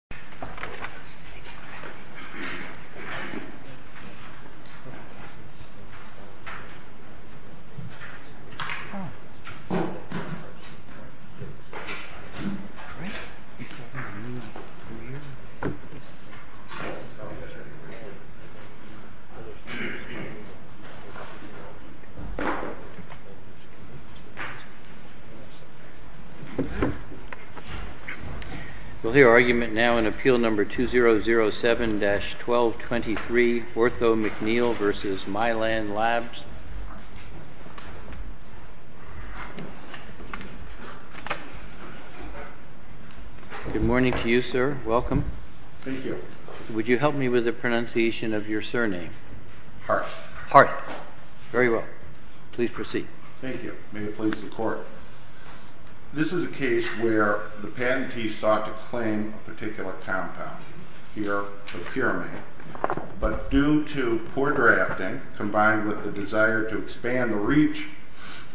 The Clerk Welcome. Thank you. Would you help me with the pronunciation of your surname? Hart. Hart. Very well. Please proceed. Thank you. May it please the Court. This is a case where the patentee sought to claim a particular compound. But due to poor drafting, combined with the desire to expand the reach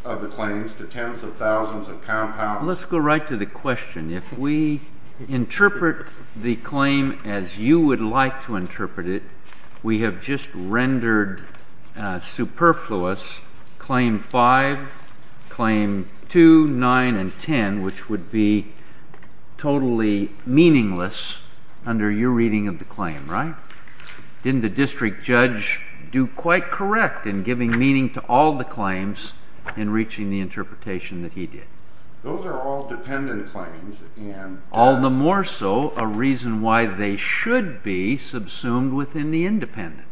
of the claims to tens of thousands of compounds. Let's go right to the question. If we interpret the claim as you would like to interpret it, we have just rendered superfluous claim 5, claim 2, 9, and 10, which would be totally meaningless under your reading of the claim, right? Didn't the district judge do quite correct in giving meaning to all the claims in reaching the interpretation that he did? Those are all dependent claims and... All the more so a reason why they should be subsumed within the independent.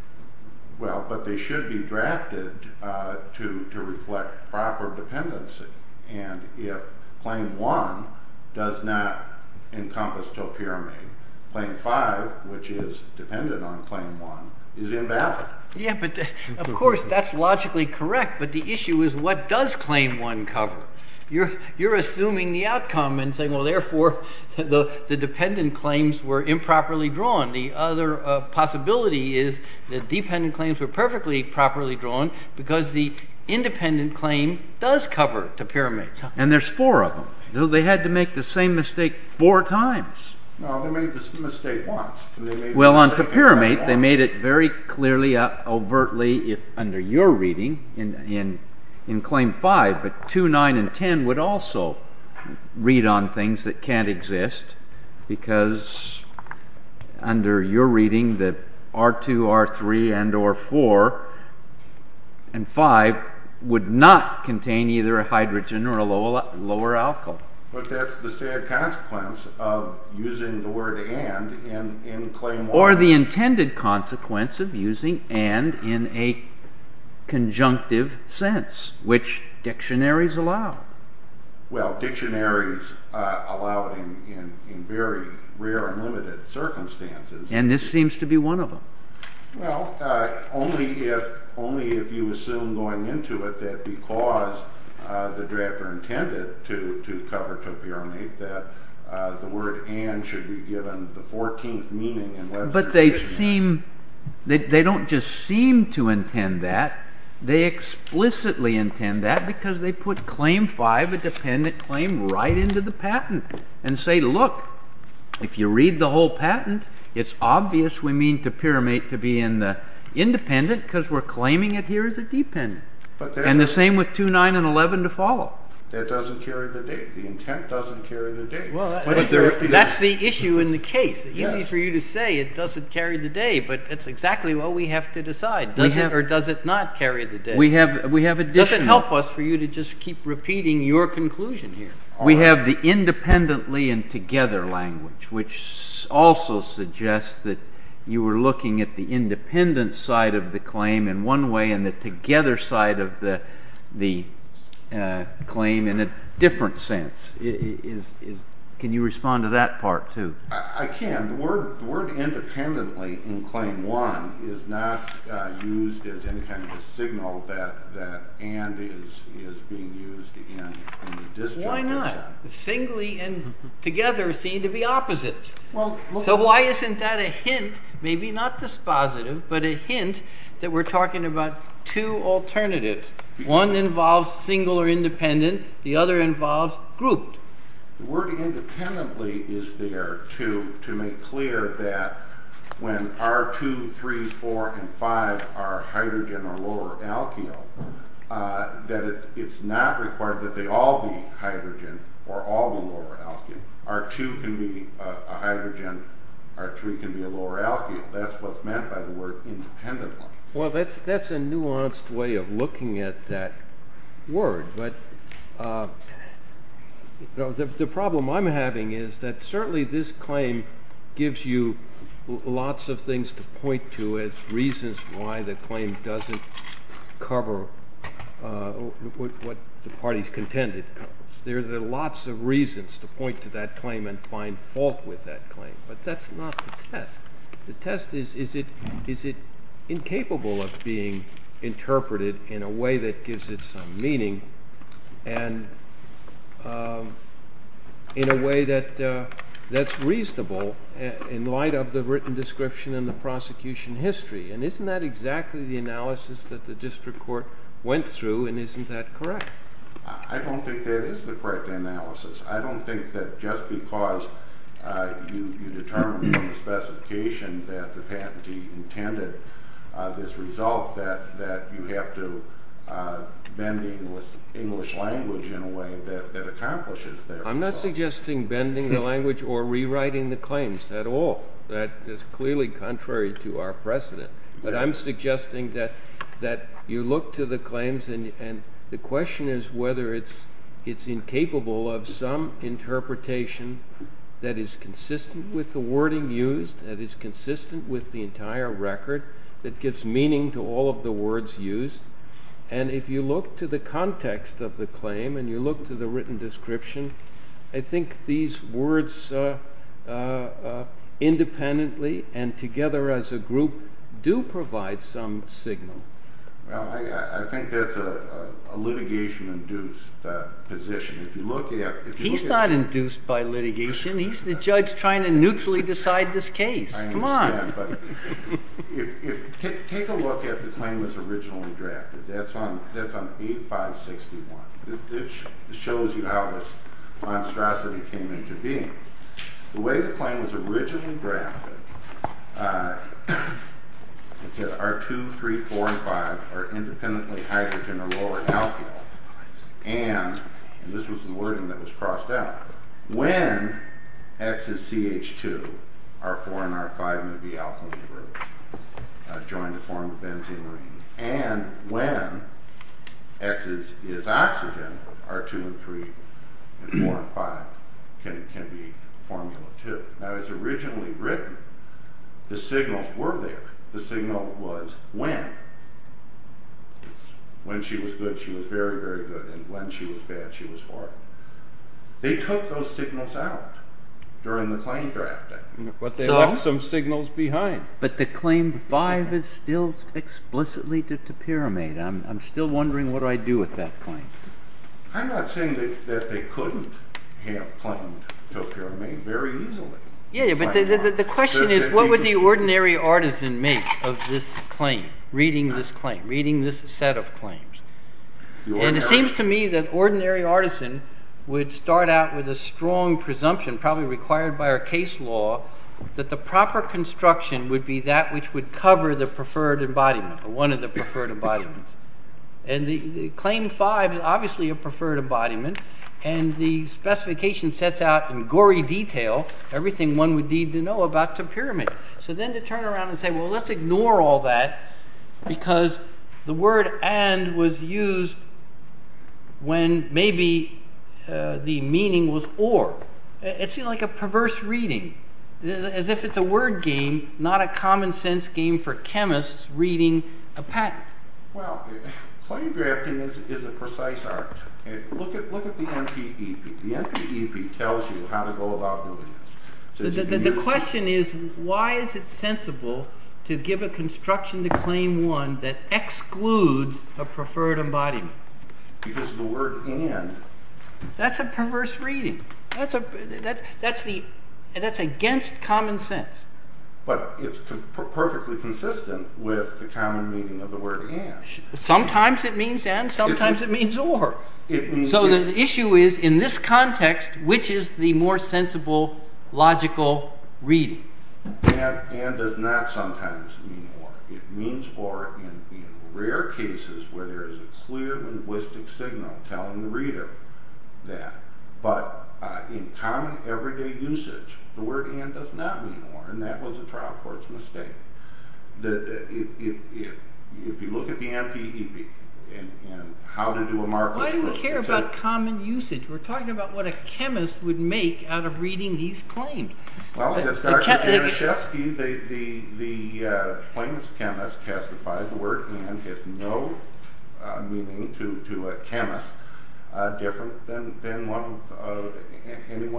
Well, but they should be drafted to reflect proper dependency. And if claim 1 does not encompass topiramine, claim 5, which is dependent on claim 1, is invalid. Yeah, but of course that's logically correct, but the issue is what does claim 1 cover? You're assuming the outcome and saying, well, therefore the dependent claims were improperly drawn. The other possibility is the dependent claims were perfectly properly drawn because the independent claim does cover topiramate. And there's four of them. They had to make the same mistake four times. No, they made the mistake once. Well on topiramate, they made it very clearly, overtly, under your reading in claim 5, but 2, 9, and 10 would also read on things that can't exist because under your reading that R2, R3, and or 4 and 5 would not contain either a hydrogen or a lower alkyl. But that's the sad consequence of using the word and in claim 1. Or the intended consequence of using and in a conjunctive sense, which dictionaries allow. Well, dictionaries allow it in very rare and limited circumstances. And this seems to be one of them. Well, only if you assume going into it that because the drafter intended to cover topiramate that the word and should be given the 14th meaning. But they seem, they don't just seem to intend that, they explicitly intend that because they put claim 5, a dependent claim, right into the patent and say look, if you read the whole patent, it's obvious we mean topiramate to be in the independent because we're claiming it here as a dependent. And the same with 2, 9, and 11 to follow. That doesn't carry the date. The intent doesn't carry the date. Well, that's the issue in the case. It's easy for you to say it doesn't carry the date, but that's exactly what we have to decide. Does it or does it not carry the date? We have additional. Does it help us for you to just keep repeating your conclusion here? We have the independently and together language, which also suggests that you were looking at the independent side of the claim in one way and the together side of the claim in a different sense. Can you respond to that part too? I can. The word independently in claim 1 is not used as any kind of a signal that and is being used in the disjunctive side. Why not? Singly and together seem to be opposites. So why isn't that a hint, maybe not dispositive, but a hint that we're talking about two alternatives. One involves single or independent. The other involves grouped. The word independently is there to make clear that when R2, 3, 4, and 5 are hydrogen or lower alkyl, that it's not required that they all be hydrogen or all be lower alkyl. R2 can be a hydrogen. R3 can be a lower alkyl. That's what's meant by the word independently. Well, that's a nuanced way of looking at that word. But the problem I'm having is that certainly this claim gives you lots of things to point to as reasons why the claim doesn't cover what the parties contend it covers. There are lots of reasons to point to that claim and find fault with that claim. But that's not the test. The test is, is it incapable of being interpreted in a way that gives it some meaning and in a way that's reasonable in light of the written description and the prosecution history? And isn't that exactly the analysis that the district court went through and isn't that correct? I don't think that is the correct analysis. I don't think that just because you determine from the specification that the patentee intended this result that you have to bend English language in a way that accomplishes that result. I'm not suggesting bending the language or rewriting the claims at all. That is clearly contrary to our precedent. But I'm suggesting that you look to the claims and the question is whether it's incapable of some interpretation that is consistent with the wording used, that is consistent with the entire record, that gives meaning to all of the words used. And if you look to the context of the claim and you look to the written description, I think these words independently and together as a group do provide some signal. I think that's a litigation-induced position. He's not induced by litigation. He's the judge trying to neutrally decide this case. I understand, but take a look at the claim that's originally drafted. That's on 8561. This shows you how this monstrosity came into being. The way the claim was originally drafted, it said R2, 3, 4, and 5 are independently hydrogen or lower alkyl and this was the wording that was crossed out. When X is CH2, R4 and R5 may be alkaline groups joined to form a benzene ring. And when X is oxygen, R2 and 3 and 4 and 5 can be formula 2. Now it's originally written, the signals were there. The signal was when. When she was good, she was very, very good, and when she was bad, she was horrible. They took those signals out during the claim drafting. But they left some signals behind. But the claim 5 is still explicitly to pyramid. I'm still wondering what do I do with that claim. I'm not saying that they couldn't have claimed to a pyramid very easily. Yeah, but the question is what would the ordinary artisan make of this claim, reading this claim, reading this set of claims. And it seems to me that ordinary artisan would start out with a strong presumption, probably required by our case law, that the proper construction would be that which would cover the preferred embodiment, one of the preferred embodiments. And the claim 5 is obviously a preferred embodiment. And the specification sets out in gory detail everything one would need to know about the pyramid. So then to turn around and say, well, let's ignore all that, because the word and was used when maybe the meaning was or. It seemed like a perverse reading, as if it's a word game, not a common sense game for chemists reading a patent. Well, claim drafting is a precise art. Look at the NPEP. The NPEP tells you how to go about doing this. The question is why is it sensible to give a construction to claim 1 that excludes a preferred embodiment? Because of the word and. That's a perverse reading. That's against common sense. But it's perfectly consistent with the common meaning of the word and. Sometimes it means and, sometimes it means or. So the issue is, in this context, which is the more sensible, logical reading? And does not sometimes mean or. It means or in rare cases where there is a clear linguistic signal telling the reader that. But in common everyday usage, the word and does not mean or. And that was a trial court's mistake. If you look at the NPEP and how to do a Markov script. Why do we care about common usage? We're talking about what a chemist would make out of reading his claim. Well, as Dr. Deroshefsky, the plaintiff's chemist testified, the word and has no meaning to a chemist. Different than anyone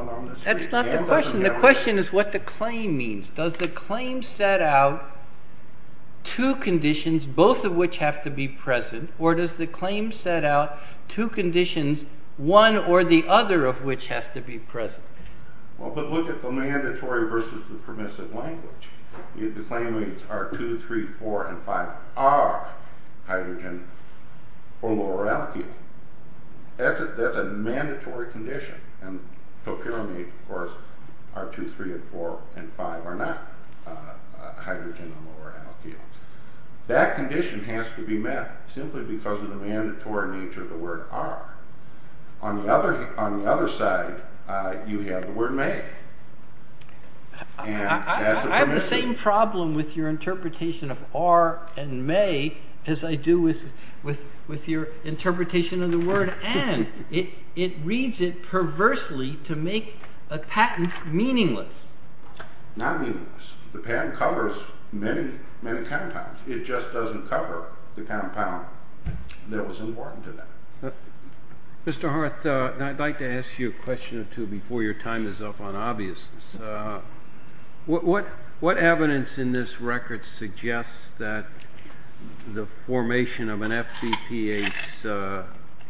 on the street. That's not the question. The question is what the claim means. Does the claim set out two conditions, both of which have to be present? Or does the claim set out two conditions, one or the other of which has to be present? Well, but look at the mandatory versus the permissive language. The claim reads R2, 3, 4, and 5 are hydrogen or lower alkyl. That's a mandatory condition. And Topira made, of course, R2, 3, 4, and 5 are not hydrogen or lower alkyl. That condition has to be met simply because of the mandatory nature of the word are. On the other side, you have the word may. I have the same problem with your interpretation of are and may as I do with your interpretation of the word and. It reads it perversely to make a patent meaningless. Not meaningless. The patent covers many, many compounds. It just doesn't cover the compound that was important to them. Mr. Hart, I'd like to ask you a question or two before your time is up on obvious. What what what evidence in this record suggests that the formation of an FTP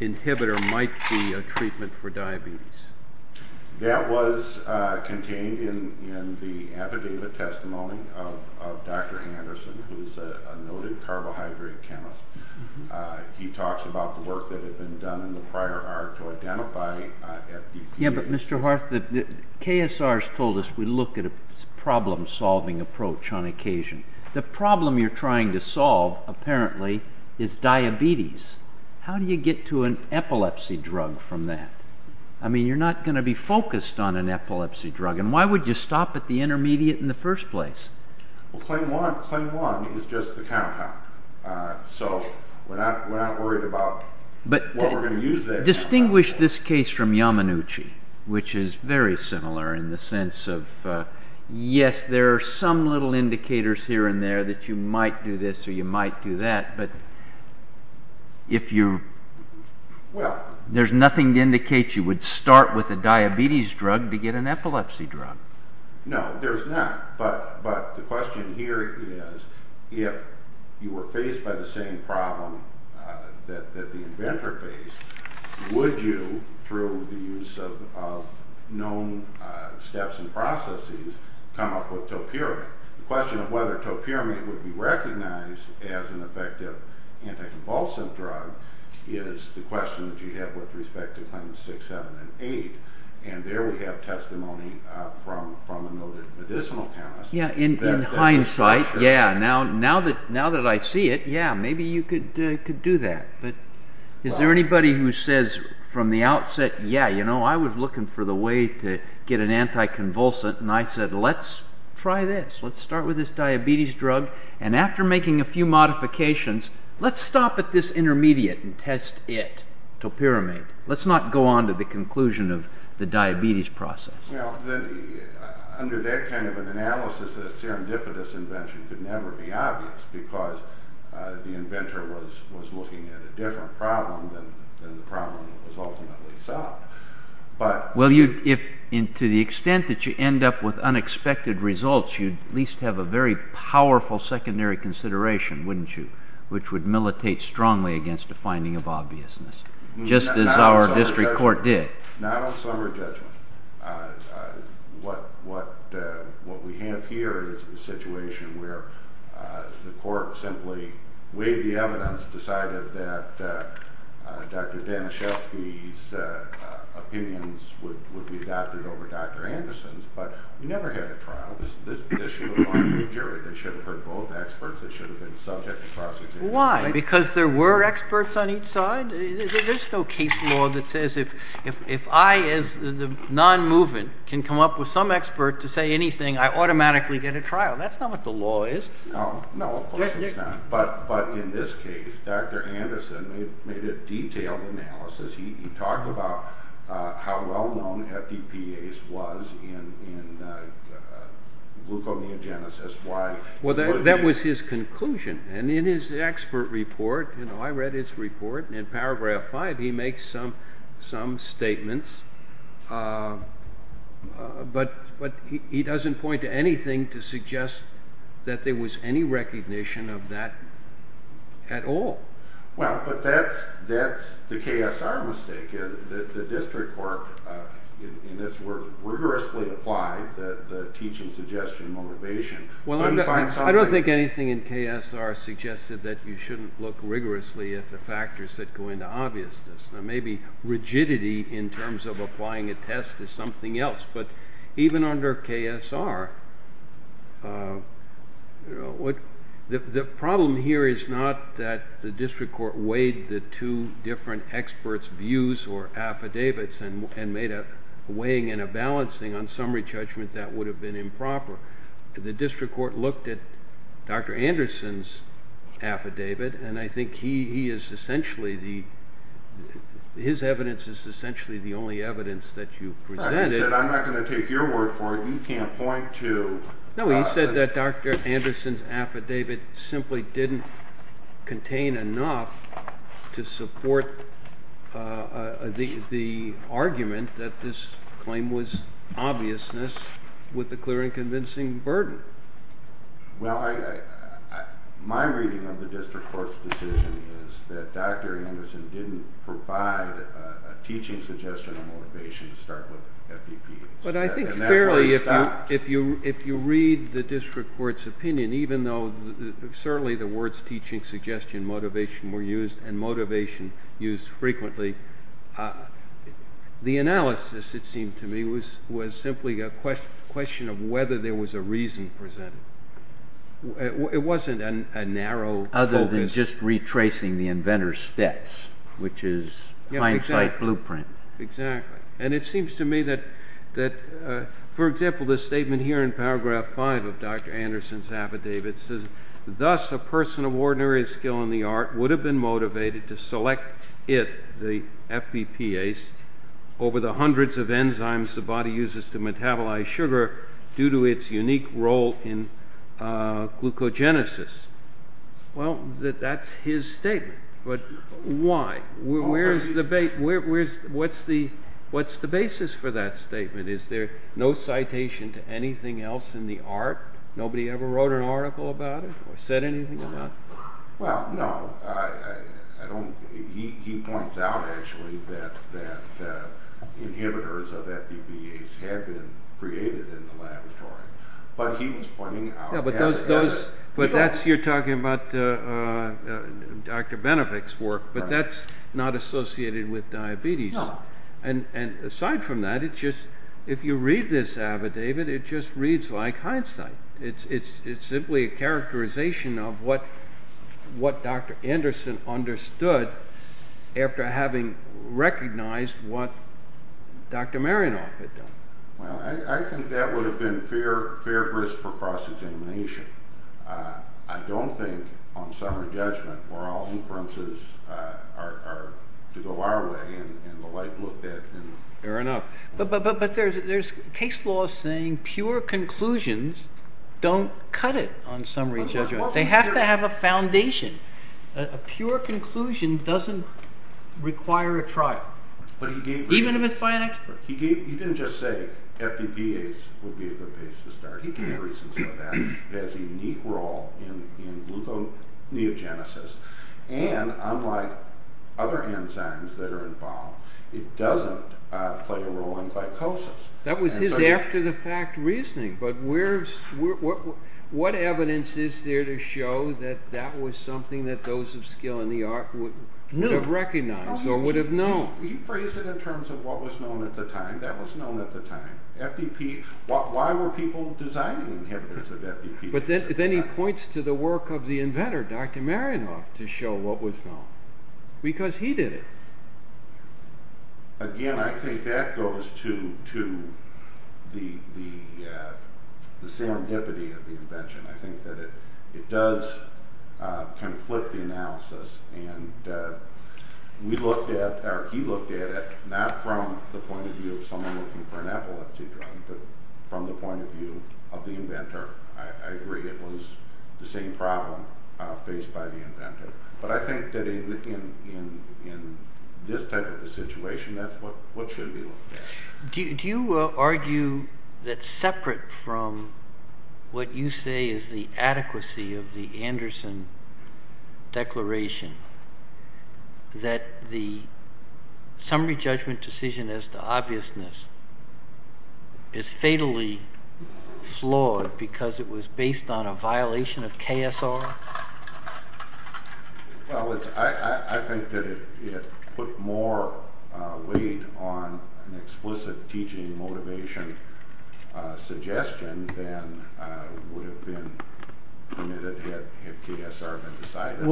inhibitor might be a treatment for diabetes? That was contained in the affidavit testimony of Dr. Anderson, who's a noted carbohydrate chemist. He talks about the work that had been done in the prior hour to identify FTP. Yeah, but Mr. Hart, KSR has told us we look at a problem solving approach on occasion. The problem you're trying to solve apparently is diabetes. How do you get to an epilepsy drug from that? I mean, you're not going to be focused on an epilepsy drug. And why would you stop at the intermediate in the first place? Well, claim one is just the compound. So we're not worried about what we're going to use there. Distinguish this case from Yamanuchi, which is very similar in the sense of, yes, there are some little indicators here and there that you might do this or you might do that. But if you, well, there's nothing to indicate you would start with a diabetes drug to get an epilepsy drug. No, there's not. But the question here is if you were faced by the same problem that the inventor faced, would you, through the use of known steps and processes, come up with topiramate? The question of whether topiramate would be recognized as an effective anticonvulsant drug is the question that you have with respect to claims 6, 7, and 8. And there we have testimony from a noted medicinal chemist. In hindsight, yeah, now that I see it, yeah, maybe you could do that. But is there anybody who says from the outset, yeah, you know, I was looking for the way to get an anticonvulsant. And I said, let's try this. Let's start with this diabetes drug. And after making a few modifications, let's stop at this intermediate and test it, topiramate. Let's not go on to the conclusion of the diabetes process. Now, under that kind of an analysis, a serendipitous invention could never be obvious because the inventor was looking at a different problem than the problem that was ultimately solved. Well, to the extent that you end up with unexpected results, you'd at least have a very powerful secondary consideration, wouldn't you, which would militate strongly against a finding of obviousness. Just as our district court did. Not on summary judgment. What we have here is a situation where the court simply weighed the evidence, decided that Dr. Daniszewski's opinions would be adopted over Dr. Anderson's. But we never had a trial. This should have gone to the jury. They should have heard both experts. They should have been subject to prosecution. Why? Because there were experts on each side? There's no case law that says if I, as the non-movement, can come up with some expert to say anything, I automatically get a trial. That's not what the law is. No, of course it's not. But in this case, Dr. Anderson made a detailed analysis. He talked about how well-known FDPAs was in gluconeogenesis. Well, that was his conclusion. And in his expert report, I read his report, and in paragraph five he makes some statements. But he doesn't point to anything to suggest that there was any recognition of that at all. Well, but that's the KSR mistake. The district court, in this work, rigorously applied the teaching suggestion motivation. Well, I don't think anything in KSR suggested that you shouldn't look rigorously at the factors that go into obviousness. Now, maybe rigidity in terms of applying a test is something else. But even under KSR, the problem here is not that the district court weighed the two different experts' views or affidavits and made a weighing and a balancing on summary judgment that would have been improper. The district court looked at Dr. Anderson's affidavit, and I think his evidence is essentially the only evidence that you presented. He said, I'm not going to take your word for it. You can't point to. No, he said that Dr. Anderson's affidavit simply didn't contain enough to support the argument that this claim was obviousness with a clear and convincing burden. Well, my reading of the district court's decision is that Dr. Anderson didn't provide a teaching suggestion of motivation to start with FDPs. And that's why it stopped. But I think fairly, if you read the district court's opinion, even though certainly the words teaching suggestion motivation were used and motivation used frequently, the analysis, it seemed to me, was simply a question of whether there was a reason presented. It wasn't a narrow focus. Other than just retracing the inventor's steps, which is hindsight blueprint. Exactly. And it seems to me that, for example, the statement here in paragraph five of Dr. Anderson's affidavit says, Thus, a person of ordinary skill in the art would have been motivated to select it, the FBPase, over the hundreds of enzymes the body uses to metabolize sugar due to its unique role in glucogenesis. Well, that's his statement. But why? What's the basis for that statement? Is there no citation to anything else in the art? Nobody ever wrote an article about it or said anything about it? Well, no. He points out, actually, that inhibitors of FBPase had been created in the laboratory. But he was pointing out as a result. But you're talking about Dr. Benefick's work, but that's not associated with diabetes. No. And aside from that, if you read this affidavit, it just reads like hindsight. It's simply a characterization of what Dr. Anderson understood after having recognized what Dr. Marinoff had done. Well, I think that would have been fair grist for cross-examination. I don't think, on summary judgment, where all inferences are to go our way and the like. Fair enough. But there's case law saying pure conclusions don't cut it on summary judgment. They have to have a foundation. A pure conclusion doesn't require a trial. Even if it's by an expert. He didn't just say FBPase would be a good base to start. He gave reasons for that. It has a unique role in gluconeogenesis. And unlike other enzymes that are involved, it doesn't play a role in glycosis. That was his after-the-fact reasoning. But what evidence is there to show that that was something that those of skill in the art would have recognized or would have known? He phrased it in terms of what was known at the time. That was known at the time. Why were people designing inhibitors of FBPase? But then he points to the work of the inventor, Dr. Marinoff, to show what was known. Because he did it. Again, I think that goes to the serendipity of the invention. I think that it does kind of flip the analysis. He looked at it not from the point of view of someone looking for an epilepsy drug, but from the point of view of the inventor. I agree it was the same problem faced by the inventor. But I think that in this type of a situation, that's what should be looked at. Do you argue that separate from what you say is the adequacy of the Anderson Declaration, that the summary judgment decision as to obviousness is fatally flawed because it was based on a violation of KSR? I think that it put more weight on an explicit teaching motivation suggestion than would have been committed had KSR been decided.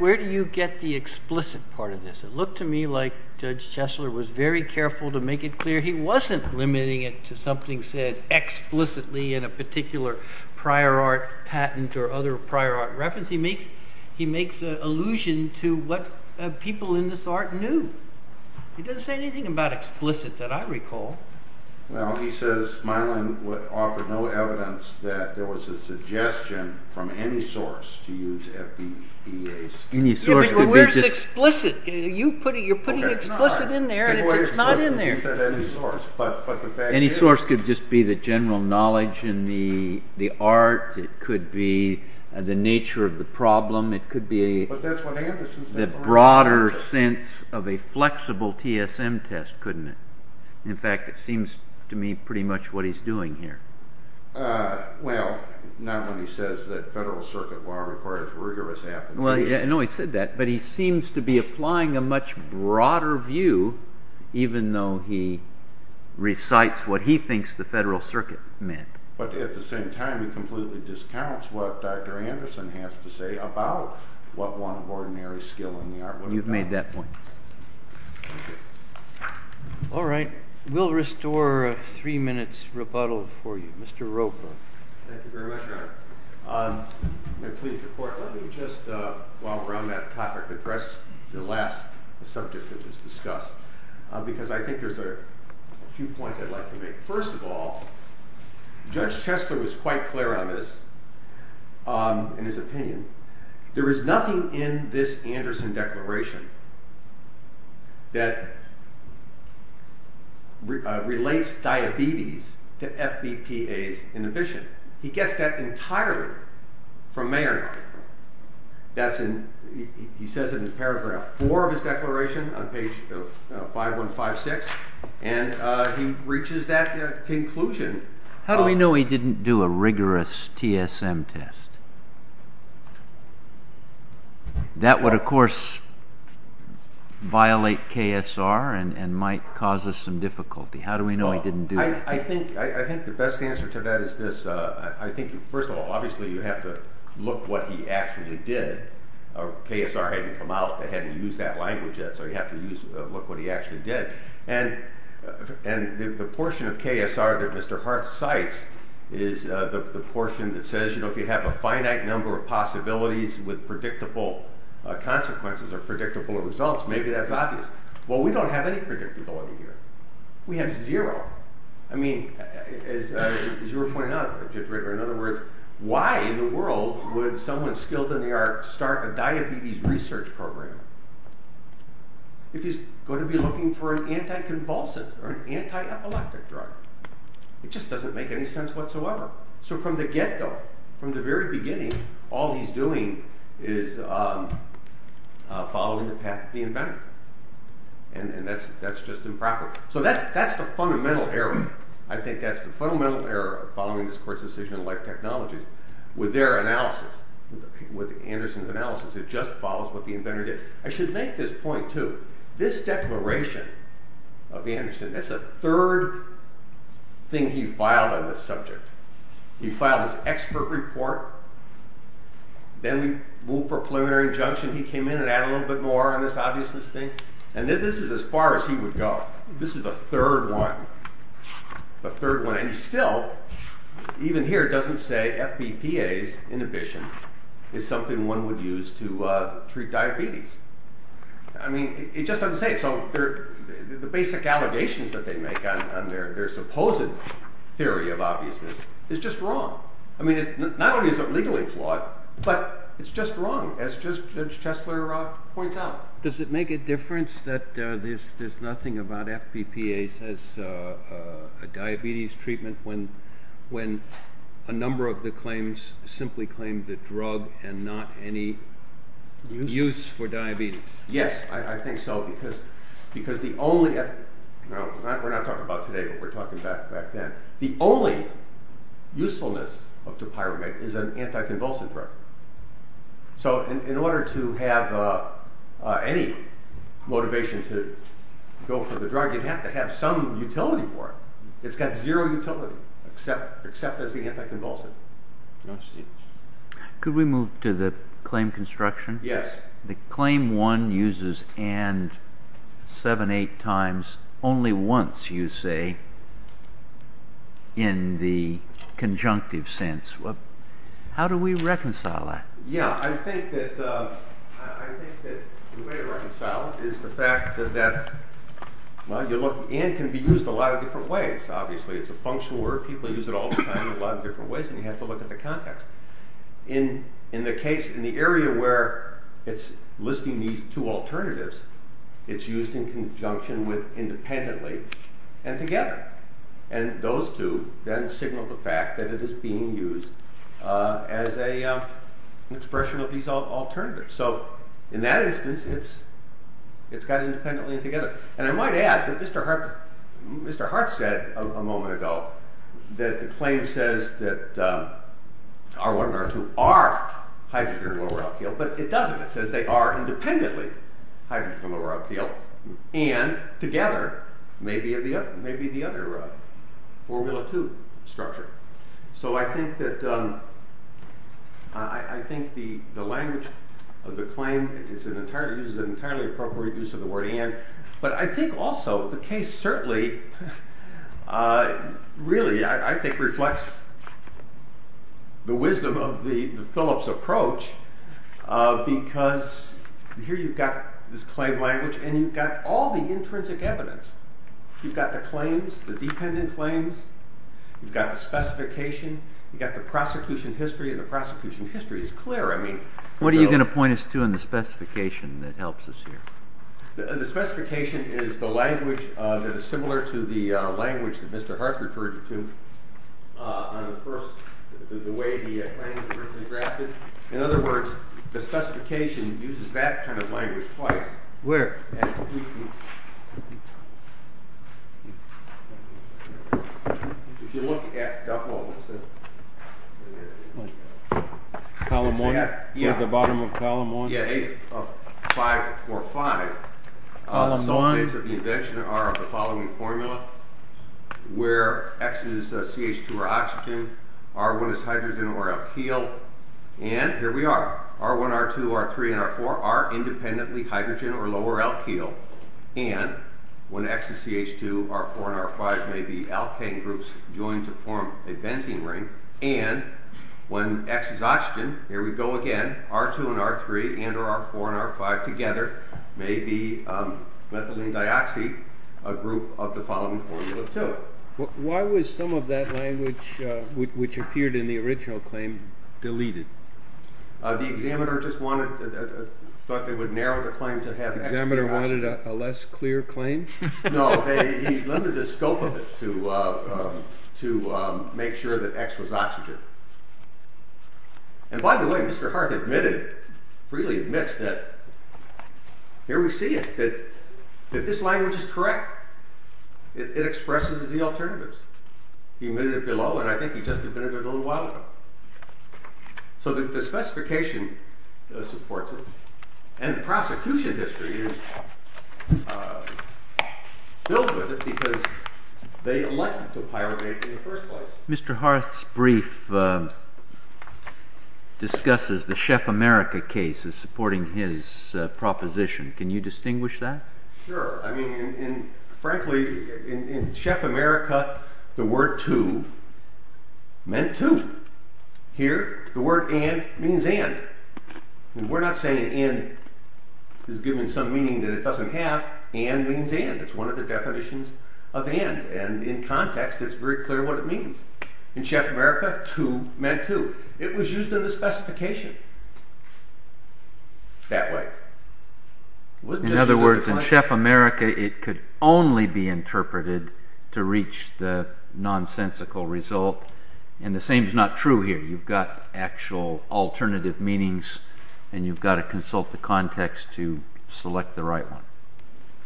Where do you get the explicit part of this? It looked to me like Judge Chesler was very careful to make it clear he wasn't limiting it to something said explicitly in a particular prior art patent or other prior art reference. He makes an allusion to what people in this art knew. He doesn't say anything about explicit that I recall. Well, he says Smilin offered no evidence that there was a suggestion from any source to use FBEA. Where's explicit? You're putting explicit in there and it's not in there. Any source could just be the general knowledge in the art. It could be the nature of the problem. It could be the broader sense of a flexible TSM test, couldn't it? In fact, it seems to me pretty much what he's doing here. Well, not when he says that Federal Circuit law requires rigorous application. I know he said that, but he seems to be applying a much broader view even though he recites what he thinks the Federal Circuit meant. But at the same time, he completely discounts what Dr. Anderson has to say about what one ordinary skill in the art would be. You've made that point. Thank you. All right, we'll restore three minutes rebuttal for you. Mr. Roper. Thank you very much, Your Honor. Let me just, while we're on that topic, address the last subject that was discussed because I think there's a few points I'd like to make. First of all, Judge Chesler was quite clear on this in his opinion. There is nothing in this Anderson Declaration that relates diabetes to FBPA's inhibition. He gets that entirely from Mayer. He says it in paragraph four of his declaration on page 5156, and he reaches that conclusion. How do we know he didn't do a rigorous TSM test? That would, of course, violate KSR and might cause us some difficulty. I think the best answer to that is this. First of all, obviously, you have to look what he actually did. KSR hadn't come out. They hadn't used that language yet, so you have to look what he actually did. And the portion of KSR that Mr. Harth cites is the portion that says, you know, if you have a finite number of possibilities with predictable consequences or predictable results, maybe that's obvious. Well, we don't have any predictability here. We have zero. I mean, as you were pointing out, Judge Ritter, in other words, why in the world would someone skilled in the arts start a diabetes research program if he's going to be looking for an anti-convulsant or an anti-epileptic drug? It just doesn't make any sense whatsoever. So from the get-go, from the very beginning, all he's doing is following the path of the inventor. And that's just improper. So that's the fundamental error. I think that's the fundamental error of following this court's decision on life technologies. With their analysis, with Anderson's analysis, it just follows what the inventor did. I should make this point, too. This declaration of Anderson, that's the third thing he filed on this subject. He filed his expert report. Then we moved for a preliminary injunction. He came in and added a little bit more on this obviousness thing. And this is as far as he would go. This is the third one, the third one. And he still, even here, doesn't say FBPA's inhibition is something one would use to treat diabetes. I mean, it just doesn't say it. So the basic allegations that they make on their supposed theory of obviousness is just wrong. I mean, not only is it legally flawed, but it's just wrong, as Judge Chesler points out. Does it make a difference that there's nothing about FBPA's as a diabetes treatment when a number of the claims simply claim the drug and not any use for diabetes? Yes, I think so. We're not talking about today, but we're talking back then. The only usefulness of dopyrumate is an anticonvulsant drug. So in order to have any motivation to go for the drug, you'd have to have some utility for it. It's got zero utility except as the anticonvulsant. Could we move to the claim construction? Yes. The claim one uses and seven, eight times only once, you say, in the conjunctive sense. How do we reconcile that? Yeah, I think that the way to reconcile it is the fact that, well, you look, and can be used a lot of different ways, obviously. It's a functional word. People use it all the time in a lot of different ways, and you have to look at the context. In the case, in the area where it's listing these two alternatives, it's used in conjunction with independently and together. And those two then signal the fact that it is being used as an expression of these alternatives. So in that instance, it's got independently and together. And I might add that Mr. Hart said a moment ago that the claim says that R1 and R2 are hydrogen and lower alkyl, but it doesn't. It says they are independently hydrogen and lower alkyl and together may be the other formula two structure. So I think the language of the claim uses an entirely appropriate use of the word and. But I think also the case certainly really, I think, reflects the wisdom of the Phillips approach, because here you've got this claim language and you've got all the intrinsic evidence. You've got the claims, the dependent claims. You've got the specification. You've got the prosecution history, and the prosecution history is clear. What are you going to point us to in the specification that helps us here? The specification is the language that is similar to the language that Mr. Hart referred to on the first, the way the claims were drafted. In other words, the specification uses that kind of language twice. Where? Here. If you look at, well, let's do it. Column one? Yeah. We're at the bottom of column one? Yeah. Eighth of five or five. Column one. Some things of the invention are of the following formula, where X is CH2 or oxygen, R1 is hydrogen or alkyl, and here we are. R1, R2, R3, and R4 are independently hydrogen or lower alkyl, and when X is CH2, R4 and R5 may be alkane groups joined to form a benzene ring, and when X is oxygen, here we go again, R2 and R3 and or R4 and R5 together may be methylene dioxide, a group of the following formula, too. Why was some of that language, which appeared in the original claim, deleted? The examiner just wanted, thought they would narrow the claim to have X be oxygen. The examiner wanted a less clear claim? No, he limited the scope of it to make sure that X was oxygen. And by the way, Mr. Harth admitted, freely admits, that here we see it, that this language is correct. It expresses the alternatives. He admitted it below, and I think he just admitted it a little while ago. So the specification supports it, and the prosecution history is filled with it because they elected to pyramid in the first place. Mr. Harth's brief discusses the Chef America case as supporting his proposition. Can you distinguish that? Sure. I mean, frankly, in Chef America, the word to meant to. Here, the word and means and. We're not saying and is given some meaning that it doesn't have. And means and. It's one of the definitions of and. And in context, it's very clear what it means. In Chef America, to meant to. It was used in the specification that way. In other words, in Chef America, it could only be interpreted to reach the nonsensical result. And the same is not true here. You've got actual alternative meanings, and you've got to consult the context to select the right one.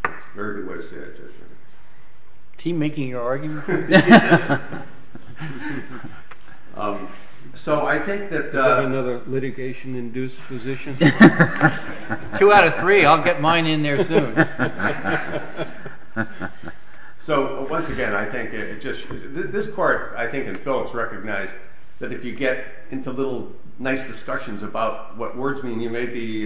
That's a very good way to say it, Judge. Is he making an argument? So I think that. Another litigation-induced position. Two out of three. I'll get mine in there soon. So once again, I think it just this court, I think, in Phillips recognized that if you get into little nice discussions about what words mean, you may be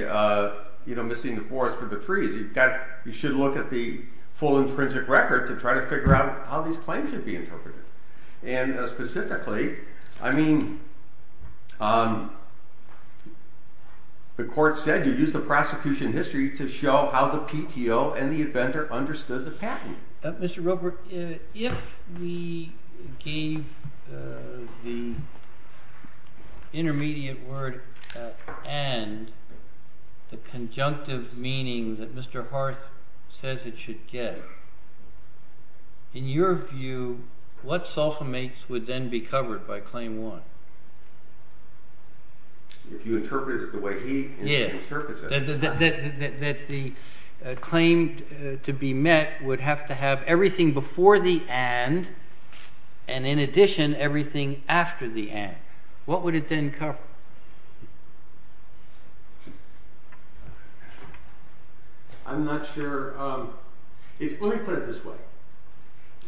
missing the forest for the trees. You've got you should look at the full intrinsic record to try to figure out how these claims should be interpreted. And specifically, I mean, the court said you use the prosecution history to show how the PTO and the inventor understood the patent. Mr. Robert, if we gave the intermediate word and the conjunctive meaning that Mr. Harth says it should get, in your view, what Salfa makes would then be covered by claim one? If you interpret it the way he interprets it. That the claim to be met would have to have everything before the and, and in addition, everything after the and. What would it then cover? I'm not sure. Let me put it this way.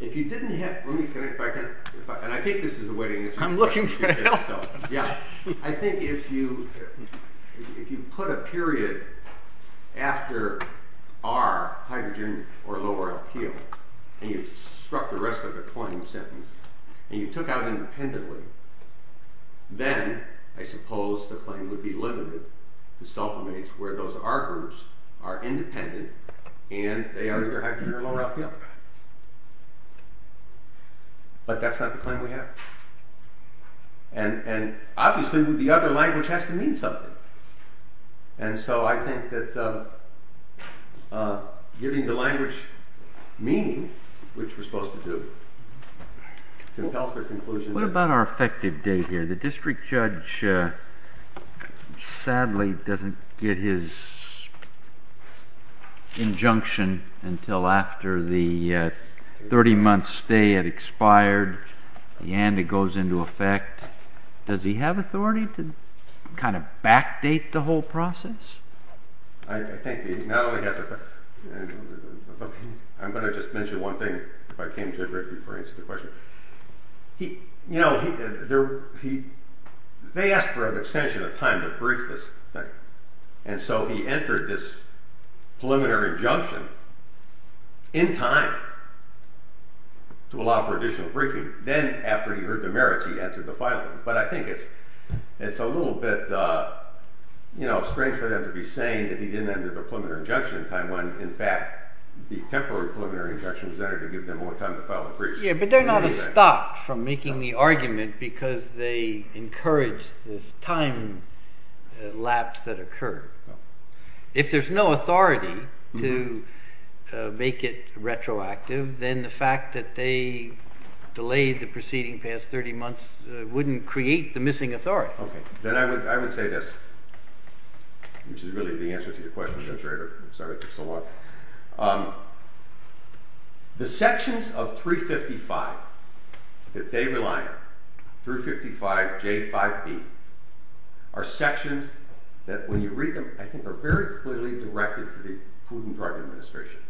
If you didn't have. And I think this is the way to answer the question. I'm looking for help. Yeah. I think if you, if you put a period after R, hydrogen or lower alkyl, and you struck the rest of the claim sentence, and you took out independently. Then I suppose the claim would be limited to Salfa mates where those R groups are independent and they are either hydrogen or lower alkyl. But that's not the claim we have. And obviously the other language has to mean something. And so I think that giving the language meaning, which we're supposed to do, compels their conclusion. What about our effective date here? The district judge sadly doesn't get his injunction until after the 30 months stay had expired. And it goes into effect. Does he have authority to kind of backdate the whole process? I think he not only has. I'm going to just mention one thing. You know, they asked for an extension of time to brief this thing. And so he entered this preliminary injunction in time to allow for additional briefing. Then after he heard the merits, he entered the final thing. But I think it's a little bit strange for them to be saying that he didn't enter the preliminary injunction in time. In fact, the temporary preliminary injunction was entered to give them more time to file a brief. Yeah, but they're not stopped from making the argument because they encouraged this time lapse that occurred. If there's no authority to make it retroactive, then the fact that they delayed the proceeding past 30 months wouldn't create the missing authority. Then I would say this, which is really the answer to your question, Judge Rader. I'm sorry it took so long. The sections of 355 that they rely on, 355J5B, are sections that when you read them I think are very clearly directed to the Pudin drug administration.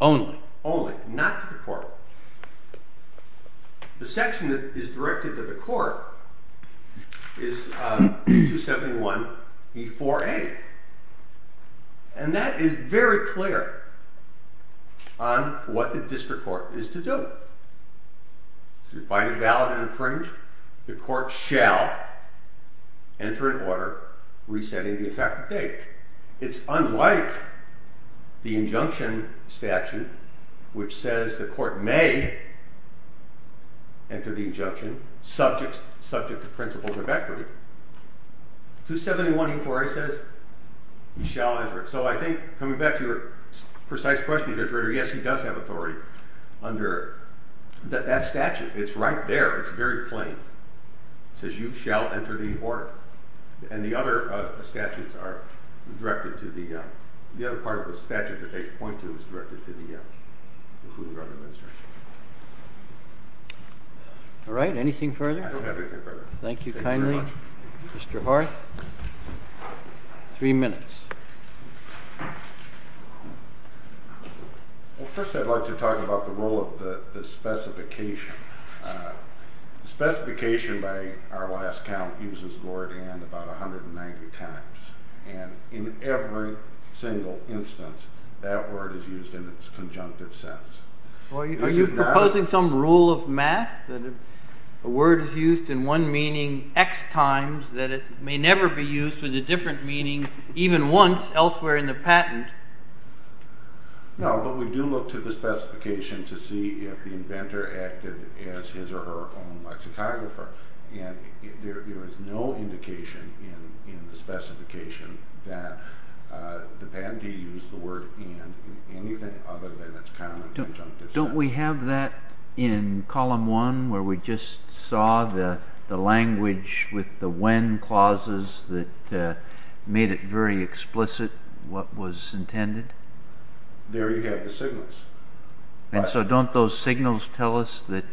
Only. Only, not to the court. The section that is directed to the court is 271E4A. And that is very clear on what the district court is to do. If you find it valid and infringe, the court shall enter an order resetting the effective date. It's unlike the injunction statute, which says the court may enter the injunction subject to principles of equity. 271E4A says you shall enter it. So I think, coming back to your precise question, Judge Rader, yes, he does have authority under that statute. It's right there. It's very plain. It says you shall enter the order. And the other part of the statute that they point to is directed to the Pudin drug administration. All right. Anything further? I don't have anything further. Thank you kindly, Mr. Hart. Three minutes. Well, first I'd like to talk about the role of the specification. The specification, by our last count, uses word and about 190 times. And in every single instance, that word is used in its conjunctive sense. Are you proposing some rule of math that a word is used in one meaning X times that it may never be used with a different meaning even once elsewhere in the patent? No, but we do look to the specification to see if the inventor acted as his or her own lexicographer. And there is no indication in the specification that the patentee used the word and in anything other than its common conjunctive sense. Don't we have that in column one where we just saw the language with the when clauses that made it very explicit what was intended? There you have the signals. And so don't those signals tell us that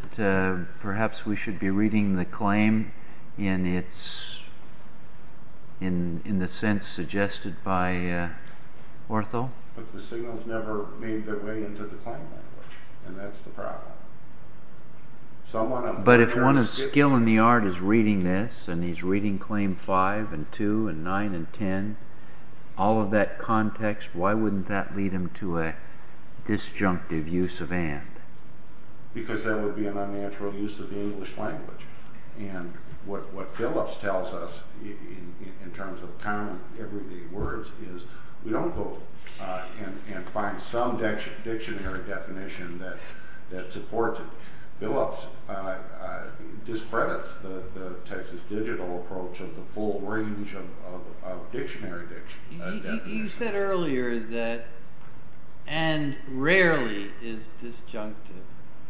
perhaps we should be reading the claim in the sense suggested by Ortho? But the signals never made their way into the claim language, and that's the problem. But if one of skill in the art is reading this, and he's reading claim five and two and nine and ten, all of that context, why wouldn't that lead him to a disjunctive use of and? Because that would be an unnatural use of the English language. And what Phillips tells us in terms of common everyday words is we don't go and find some dictionary definition that supports it. Phillips discredits the Texas Digital approach of the full range of dictionary definitions. You said earlier that and rarely is disjunctive,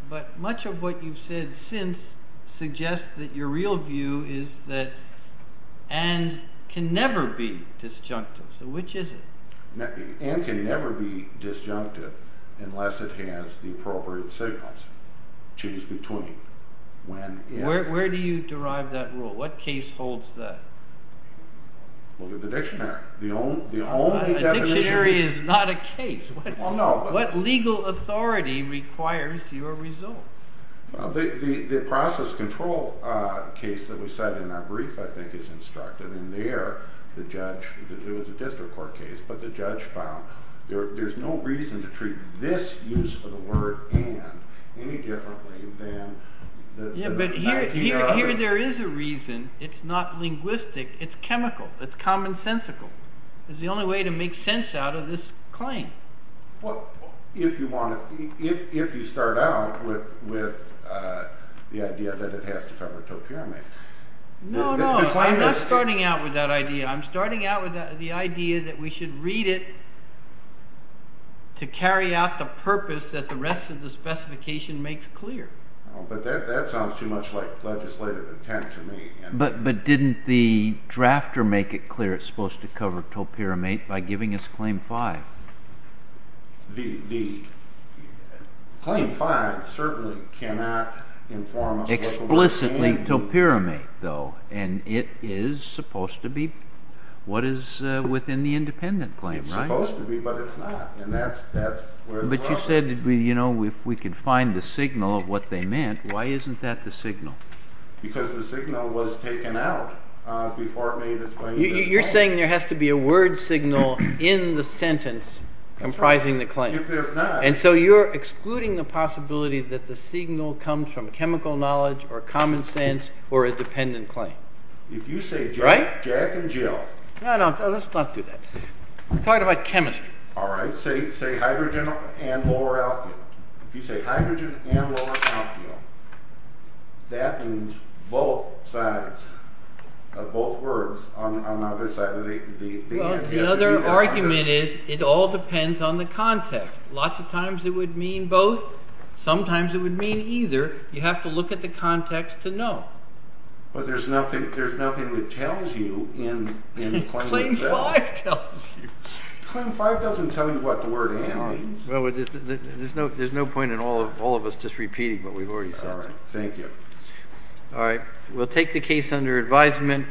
but much of what you've said since suggests that your real view is that and can never be disjunctive. So which is it? And can never be disjunctive unless it has the appropriate signals. Change between. Where do you derive that rule? What case holds that? Look at the dictionary. The dictionary is not a case. What legal authority requires your result? The process control case that we said in our brief, I think, is instructive. And there, the judge, it was a district court case, but the judge found there's no reason to treat this use of the word and any differently than. Here there is a reason. It's not linguistic. It's chemical. It's commonsensical. It's the only way to make sense out of this claim. Well, if you want to, if you start out with the idea that it has to cover a pyramid. No, no, I'm not starting out with that idea. I'm starting out with the idea that we should read it to carry out the purpose that the rest of the specification makes clear. But that sounds too much like legislative intent to me. But didn't the drafter make it clear it's supposed to cover topyramid by giving us Claim 5? The Claim 5 certainly cannot inform us of what the claim is. Explicitly topyramid, though, and it is supposed to be what is within the independent claim, right? It's supposed to be, but it's not, and that's where the problem is. You said, you know, if we could find the signal of what they meant, why isn't that the signal? Because the signal was taken out before it made its way into the claim. You're saying there has to be a word signal in the sentence comprising the claim. If there's not. And so you're excluding the possibility that the signal comes from chemical knowledge or common sense or a dependent claim. If you say Jack and Jill. No, no, let's not do that. We're talking about chemistry. All right, say hydrogen and lower alkyl. If you say hydrogen and lower alkyl, that means both sides of both words on either side. The other argument is it all depends on the context. Lots of times it would mean both. Sometimes it would mean either. You have to look at the context to know. But there's nothing that tells you in the claim itself. Claim five doesn't tell you what the word hand means. There's no point in all of us just repeating what we've already said. All right, thank you. All right, we'll take the case under advisement.